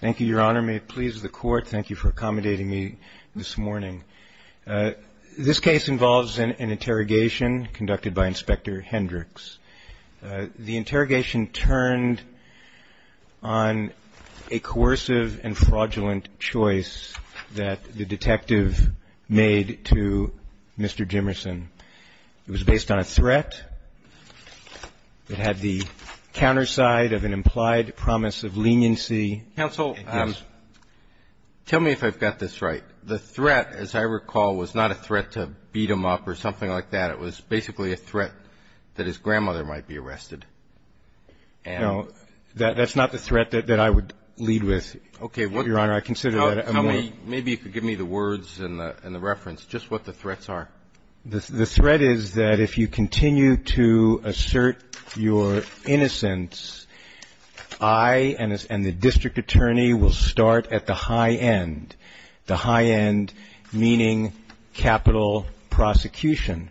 Thank you, Your Honor. May it please the Court, thank you for accommodating me this morning. This case involves an interrogation conducted by Inspector Hendricks. The interrogation turned on a coercive and fraudulent choice that the detective made to Mr. Jimmerson. It was based on a threat that had the counterside of an implied promise of leniency. Counsel, tell me if I've got this right. The threat, as I recall, was not a threat to beat him up or something like that. It was basically a threat that his grandmother might be arrested. No. That's not the threat that I would lead with, Your Honor. Okay. Maybe you could give me the words and the reference, just what the threats are. The threat is that if you continue to assert your innocence, I and the district attorney will start at the high end. The high end meaning capital prosecution.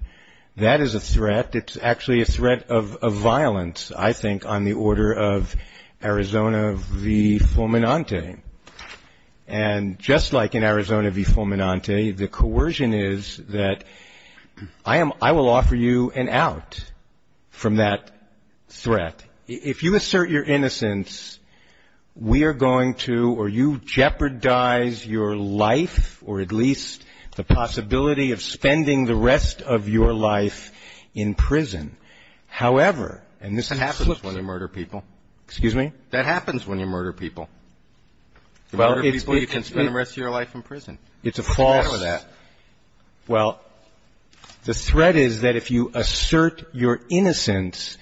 That is a threat. It's actually a threat of violence, I think, on the order of Arizona v. Fulminante. And just like in Arizona v. Fulminante, the coercion is that I will offer you an out from that threat. If you assert your innocence, we are going to, or you jeopardize your life, or at least the possibility of spending the rest of your life in prison. However, and this happens when you murder people. Excuse me? That happens when you murder people. You murder people, you can spend the rest of your life in prison. What's the matter with that? Well, the threat is that if you assert your innocence,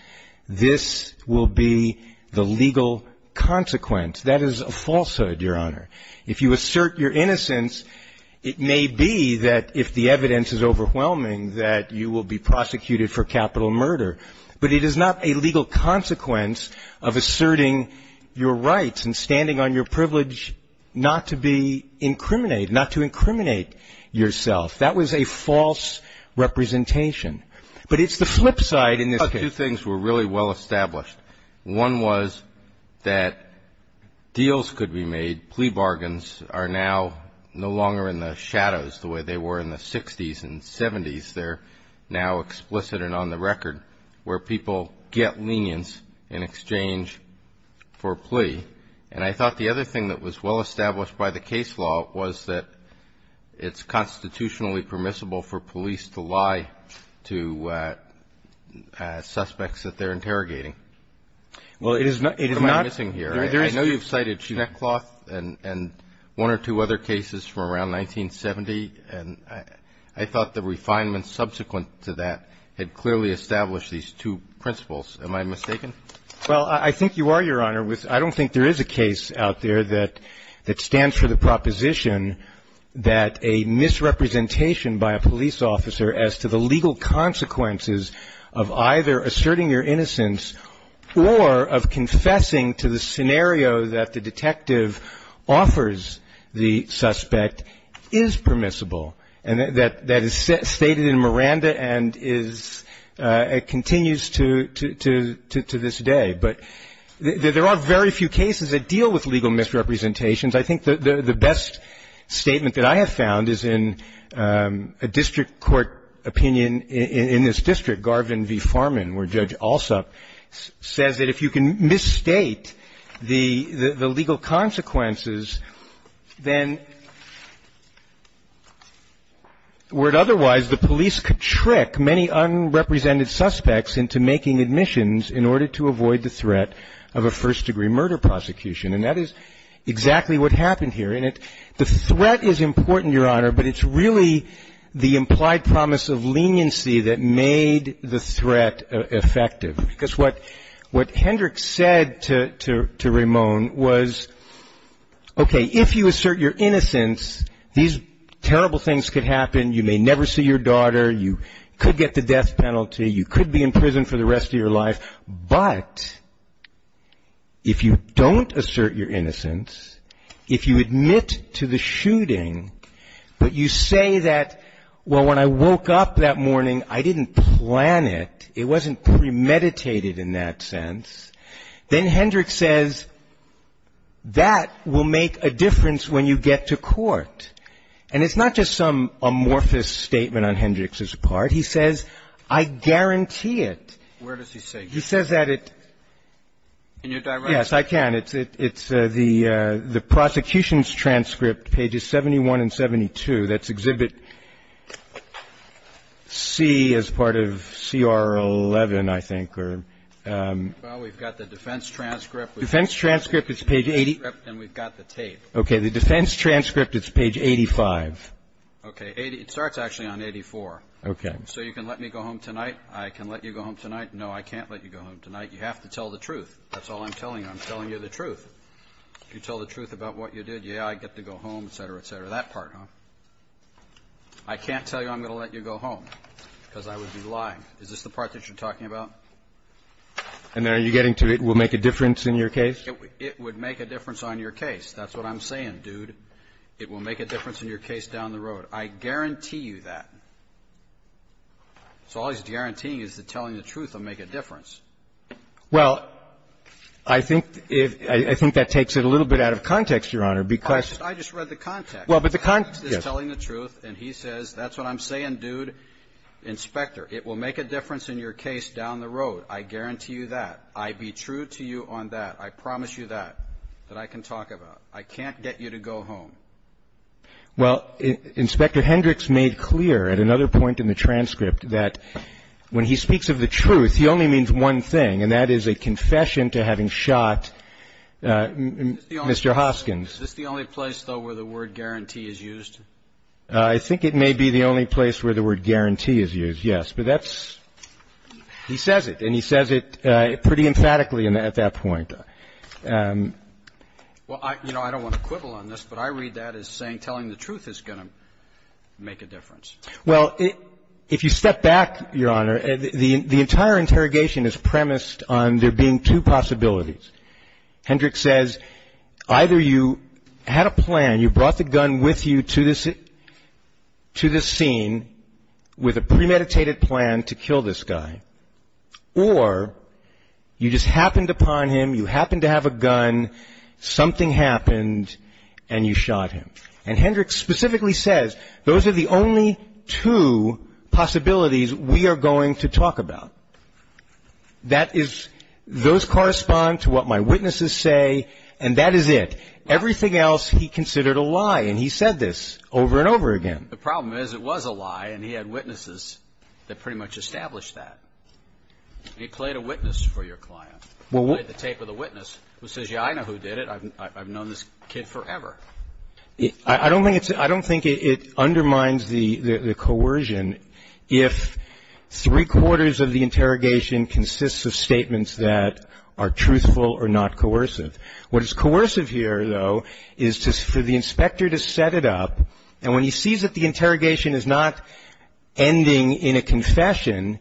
this will be the legal consequence. That is a falsehood, Your Honor. If you assert your innocence, it may be that if the evidence is overwhelming, that you will be prosecuted for capital murder. But it is not a legal consequence of asserting your rights and standing on your privilege not to be incriminated, not to incriminate yourself. That was a false representation. But it's the flip side in this case. Two things were really well established. One was that deals could be made. Plea bargains are now no longer in the shadows the way they were in the 60s and 70s. They're now explicit and on the record where people get lenience in exchange for plea. And I thought the other thing that was well established by the case law was that it's constitutionally permissible for police to lie to suspects that they're interrogating. Well, it is not. What am I missing here? I know you've cited Schneckloth and one or two other cases from around 1970. And I thought the refinements subsequent to that had clearly established these two principles. Am I mistaken? Well, I think you are, Your Honor. I don't think there is a case out there that stands for the proposition that a misrepresentation by a police officer as to the legal consequences of either asserting your innocence or of confessing to the scenario that the detective offers the suspect is permissible. And that is stated in Miranda and continues to this day. But there are very few cases that deal with legal misrepresentations. I think the best statement that I have found is in a district court opinion in this district, Garvin v. Farman, where Judge Alsop says that if you can misstate the legal consequences, then where otherwise the police could trick many unrepresented suspects into making admissions in order to avoid the threat of a first-degree murder prosecution. And that is exactly what happened here. And the threat is important, Your Honor, but it's really the implied promise of leniency that made the threat effective. Because what Hendricks said to Ramon was, okay, if you assert your innocence, these terrible things could happen. You may never see your daughter. You could get the death penalty. You could be in prison for the rest of your life. But if you don't assert your innocence, if you admit to the shooting, but you say that, well, when I woke up that morning, I didn't plan it, it wasn't premeditated in that sense, then Hendricks says that will make a difference when you get to court. And it's not just some amorphous statement on Hendricks's part. He says, I guarantee it. Where does he say this? He says that it's the prosecution's transcript, pages 71 and 72. That's Exhibit C as part of CR 11, I think. Well, we've got the defense transcript. The defense transcript is page 80. And we've got the tape. Okay. The defense transcript is page 85. Okay. It starts actually on 84. Okay. So you can let me go home tonight. I can let you go home tonight. No, I can't let you go home tonight. You have to tell the truth. That's all I'm telling you. I'm telling you the truth. If you tell the truth about what you did, yeah, I get to go home, et cetera, et cetera. That part, huh? I can't tell you I'm going to let you go home because I would be lying. Is this the part that you're talking about? And are you getting to it will make a difference in your case? It would make a difference on your case. That's what I'm saying, dude. It will make a difference in your case down the road. I guarantee you that. So all he's guaranteeing is that telling the truth will make a difference. Well, I think if — I think that takes it a little bit out of context, Your Honor, because — I just read the context. Well, but the context is telling the truth, and he says, that's what I'm saying, dude. Inspector, it will make a difference in your case down the road. I guarantee you that. I'd be true to you on that. I promise you that, that I can talk about. I can't get you to go home. Well, Inspector Hendricks made clear at another point in the transcript that when he speaks of the truth, he only means one thing, and that is a confession to having shot Mr. Hoskins. Is this the only place, though, where the word guarantee is used? I think it may be the only place where the word guarantee is used, yes. But that's — he says it, and he says it pretty emphatically at that point. Well, you know, I don't want to quibble on this, but I read that as saying telling the truth is going to make a difference. Well, if you step back, Your Honor, the entire interrogation is premised on there being two possibilities. Hendricks says either you had a plan, you brought the gun with you to this scene with a premeditated plan to kill this guy, or you just happened upon him, you happened to have a gun, something happened, and you shot him. And Hendricks specifically says those are the only two possibilities we are going to talk about. That is — those correspond to what my witnesses say, and that is it. Everything else he considered a lie, and he said this over and over again. The problem is it was a lie, and he had witnesses that pretty much established that. He played a witness for your client. He played the tape with a witness who says, yeah, I know who did it. I've known this kid forever. I don't think it undermines the coercion if three-quarters of the interrogation consists of statements that are truthful or not coercive. What is coercive here, though, is for the inspector to set it up, and when he sees that the interrogation is not ending in a confession,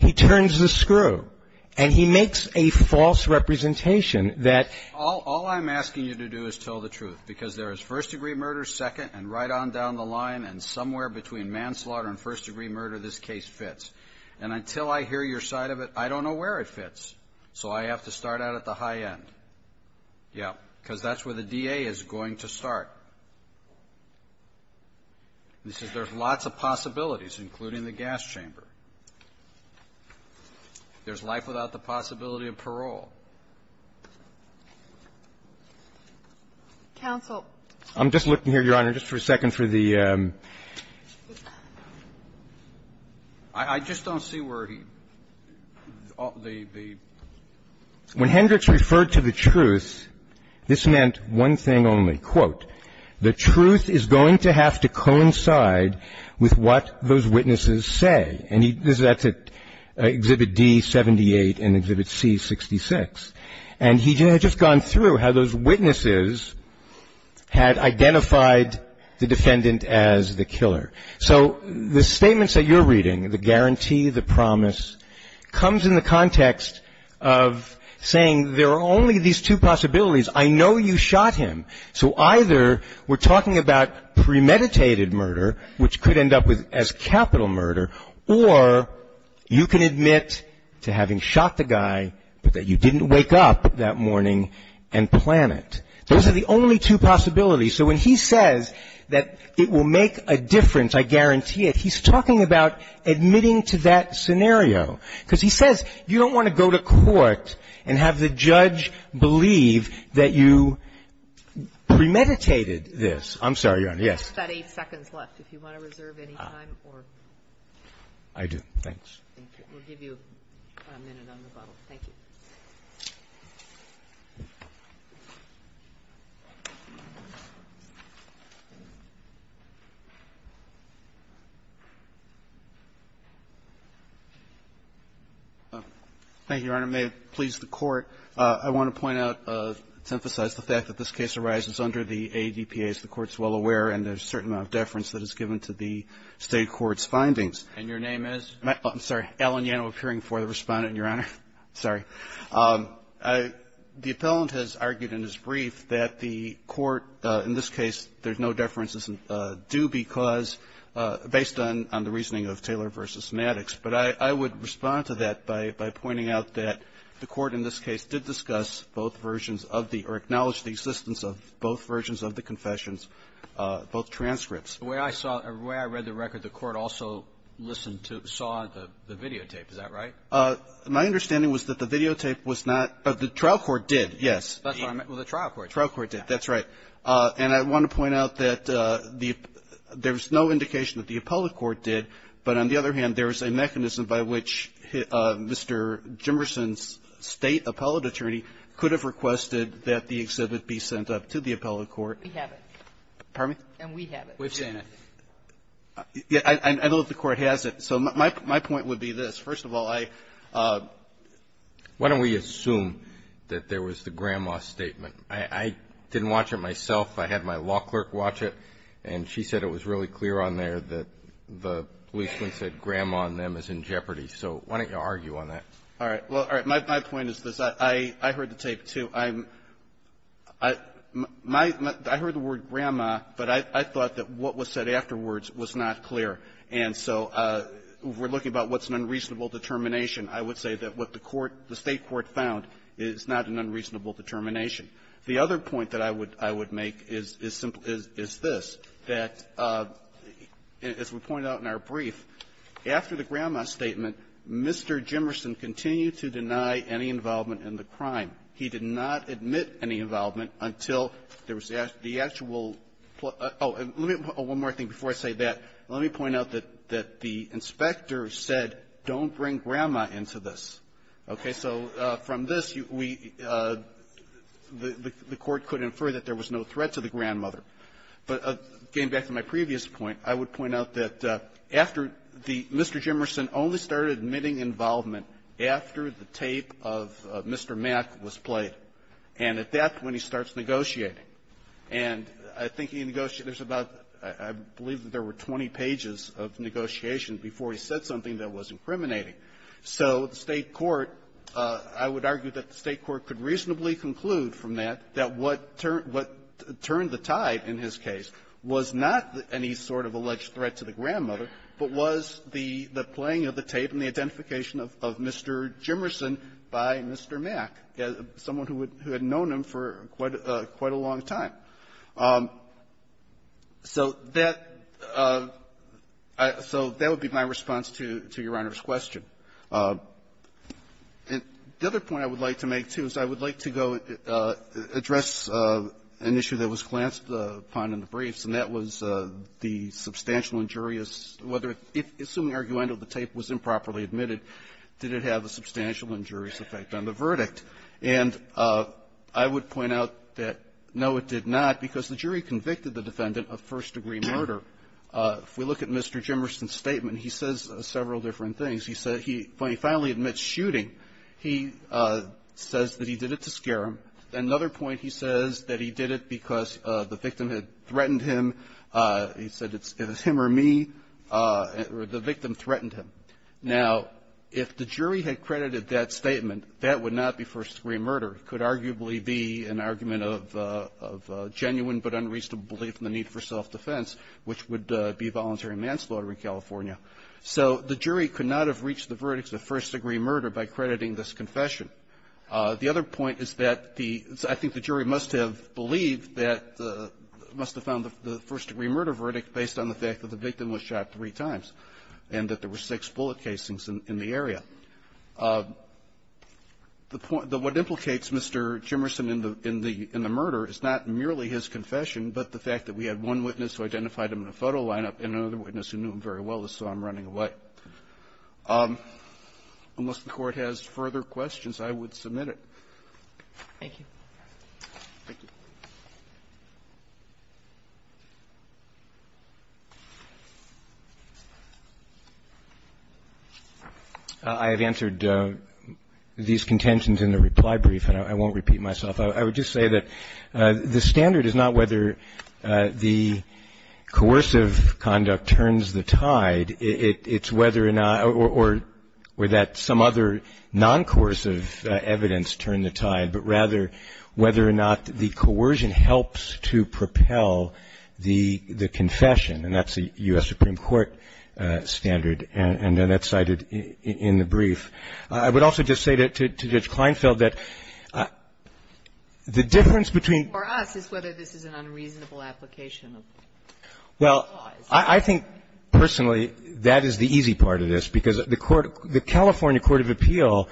he turns the screw, and he makes a false representation that all I'm asking you to do is tell the truth, because there is first-degree murder second, and right on down the line, and somewhere between manslaughter and first-degree murder, this case fits. And until I hear your side of it, I don't know where it fits, so I have to start out at the high end. Yeah. Because that's where the DA is going to start. He says there's lots of possibilities, including the gas chamber. There's life without the possibility of parole. Kagan. Counsel. I'm just looking here, Your Honor, just for a second for the ---- I just don't see where he ---- the ---- When Hendricks referred to the truth, this meant one thing only, quote, the truth is going to have to coincide with what those witnesses say. And he ---- that's at Exhibit D-78 and Exhibit C-66. And he had just gone through how those witnesses had identified the defendant as the killer. So the statements that you're reading, the guarantee, the promise, comes in the context of saying there are only these two possibilities. I know you shot him. So either we're talking about premeditated murder, which could end up as capital murder, or you can admit to having shot the guy, but that you didn't wake up that morning and plan it. Those are the only two possibilities. So when he says that it will make a difference, I guarantee it, he's talking about admitting to that scenario. Because he says you don't want to go to court and have the judge believe that you premeditated this. I'm sorry, Your Honor. Yes. I've got eight seconds left. If you want to reserve any time or ---- I do. Thanks. We'll give you a minute on the bottle. Thank you. Thank you, Your Honor. May it please the Court, I want to point out, to emphasize the fact that this case arises under the ADPA, as the Court's well aware, and there's a certain amount of deference that is given to the State court's findings. And your name is? I'm sorry. Alan Yano, appearing for the Respondent, Your Honor. Sorry. The appellant has argued in his brief that the Court, in this case, there's no deference due because, based on the reasoning of Taylor v. Maddox. But I would respond to that by pointing out that the Court in this case did discuss both versions of the or acknowledge the existence of both versions of the confessions, both transcripts. The way I saw it, the way I read the record, the Court also listened to, saw the videotape. Is that right? My understanding was that the videotape was not ---- the trial court did, yes. That's what I meant. Well, the trial court did. The trial court did, that's right. And I want to point out that the ---- there's no indication that the appellate court did, but on the other hand, there's a mechanism by which Mr. Jimmerson's State appellate attorney could have requested that the exhibit be sent up to the appellate court. We have it. Pardon me? And we have it. We've seen it. I don't know if the Court has it. So my point would be this. First of all, I ---- Why don't we assume that there was the grandma statement? I didn't watch it myself. I had my law clerk watch it, and she said it was really clear on there that the policeman said grandma and them is in jeopardy. So why don't you argue on that? All right. Well, my point is this. I heard the tape, too. I'm ---- I heard the word grandma, but I thought that what was said afterwards was not clear. And so we're looking about what's an unreasonable determination. I would say that what the court, the State court found is not an unreasonable determination. The other point that I would make is this, that, as we pointed out in our brief, after the grandma statement, Mr. Jimmerson continued to deny any involvement in the crime. He did not admit any involvement until there was the actual ---- oh, let me ---- oh, one more thing before I say that. Let me point out that the inspector said, don't bring grandma into this. Okay. So from this, we ---- the Court could infer that there was no threat to the grandmother. But getting back to my previous point, I would point out that after the ---- Mr. Jimmerson only started admitting involvement after the tape of Mr. Mack was played. And at that point, he starts negotiating. And I think he negotiates about ---- I believe that there were 20 pages of negotiation before he said something that was incriminating. So the State court, I would argue that the State court could reasonably conclude from that that what turned the tide in his case was not any sort of alleged threat to the grandmother, but was the playing of the tape and the identification of Mr. Jimmerson by Mr. Mack, someone who had known him for quite a long time. So that ---- so that would be my response to Your Honor's question. The other point I would like to make, too, is I would like to go address an issue that was glanced upon in the briefs, and that was the substantial injurious ---- whether ---- assuming, arguably, the tape was improperly admitted, did it have a substantial injurious effect on the verdict? And I would point out that, no, it did not, because the jury convicted the defendant of first-degree murder. If we look at Mr. Jimmerson's statement, he says several different things. He said he finally admits shooting. He says that he did it to scare him. Another point, he says that he did it because the victim had threatened him. He said it's him or me, or the victim threatened him. Now, if the jury had credited that statement, that would not be first-degree murder. It could arguably be an argument of genuine but unreasonable belief in the need for self-defense, which would be voluntary manslaughter in California. So the jury could not have reached the verdicts of first-degree murder by crediting this confession. The other point is that the ---- I think the jury must have believed that the ---- must have found the first-degree murder verdict based on the fact that the victim was shot three times and that there were six bullet casings in the area. The point ---- what implicates Mr. Jimmerson in the murder is not merely his confession, but the fact that we had one witness who identified him in a photo lineup and another witness who knew him very well, so I'm running away. But unless the Court has further questions, I would submit it. Thank you. Thank you. I have answered these contentions in the reply brief, and I won't repeat myself. I would just say that the standard is not whether the coercive conduct turns the tide. It's whether or not or that some other non-coercive evidence turned the tide, but rather whether or not the coercion helps to propel the confession, and that's the U.S. Supreme Court standard, and that's cited in the brief. I would also just say to Judge Kleinfeld that the difference between ---- For us, it's whether this is an unreasonable application of laws. I think personally, that is the easy part of this, because the Court ---- the California court of appeal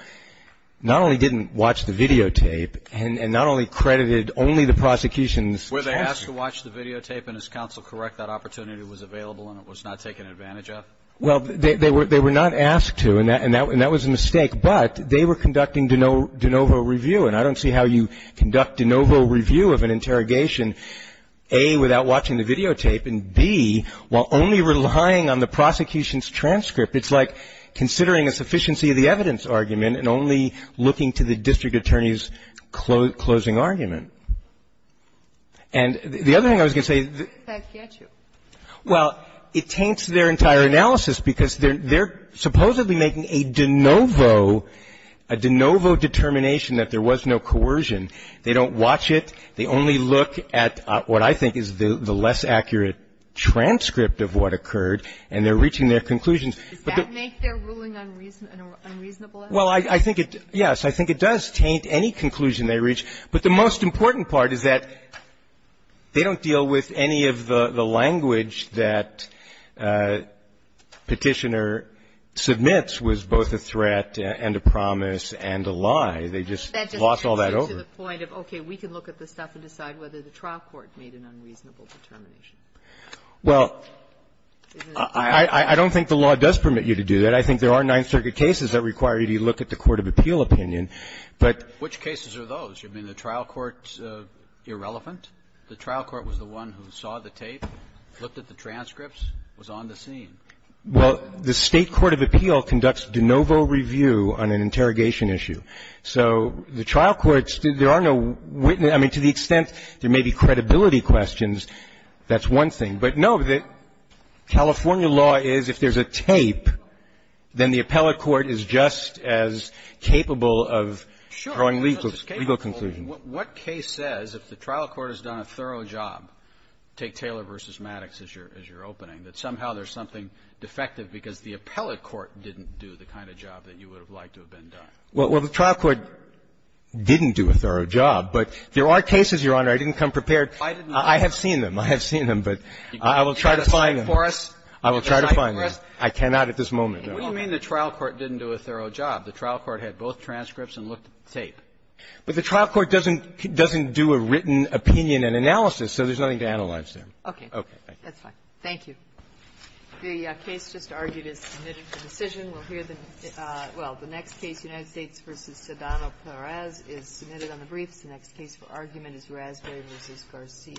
not only didn't watch the videotape and not only credited only the prosecution's counsel. Were they asked to watch the videotape, and is counsel correct that opportunity was available and it was not taken advantage of? Well, they were not asked to, and that was a mistake, but they were conducting de novo review, and I don't see how you conduct de novo review of an interrogation A, without watching the videotape, and B, while only relying on the prosecution's transcript, it's like considering a sufficiency of the evidence argument and only looking to the district attorney's closing argument. And the other thing I was going to say is that ---- That's ketchup. Well, it taints their entire analysis, because they're supposedly making a de novo determination that there was no coercion. They don't watch it. They only look at what I think is the less accurate transcript of what occurred, and they're reaching their conclusions. Does that make their ruling unreasonable? Well, I think it ---- yes, I think it does taint any conclusion they reach. But the most important part is that they don't deal with any of the language that Petitioner submits was both a threat and a promise and a lie. They just lost all that over. To the point of, okay, we can look at this stuff and decide whether the trial court made an unreasonable determination. Well, I don't think the law does permit you to do that. I think there are Ninth Circuit cases that require you to look at the court of appeal opinion, but ---- Which cases are those? You mean the trial court's irrelevant? The trial court was the one who saw the tape, looked at the transcripts, was on the scene. Well, the State court of appeal conducts de novo review on an interrogation issue. So the trial courts, there are no witness ---- I mean, to the extent there may be credibility questions, that's one thing. But, no, the California law is if there's a tape, then the appellate court is just as capable of drawing legal conclusions. Sure, it's capable. What case says, if the trial court has done a thorough job, take Taylor v. Maddox as your opening, that somehow there's something defective because the appellate court didn't do the kind of job that you would have liked to have been done? Well, the trial court didn't do a thorough job. But there are cases, Your Honor, I didn't come prepared. I have seen them. I have seen them. But I will try to find them. You got a site for us? I will try to find them. I cannot at this moment. What do you mean the trial court didn't do a thorough job? The trial court had both transcripts and looked at the tape. But the trial court doesn't do a written opinion and analysis, so there's nothing to analyze there. Okay. Okay. That's fine. Thank you. The case just argued is submitted for decision. We'll hear the next case, United States v. Saddam al-Paraz is submitted on the briefs. The next case for argument is Raspberry v. Garcia.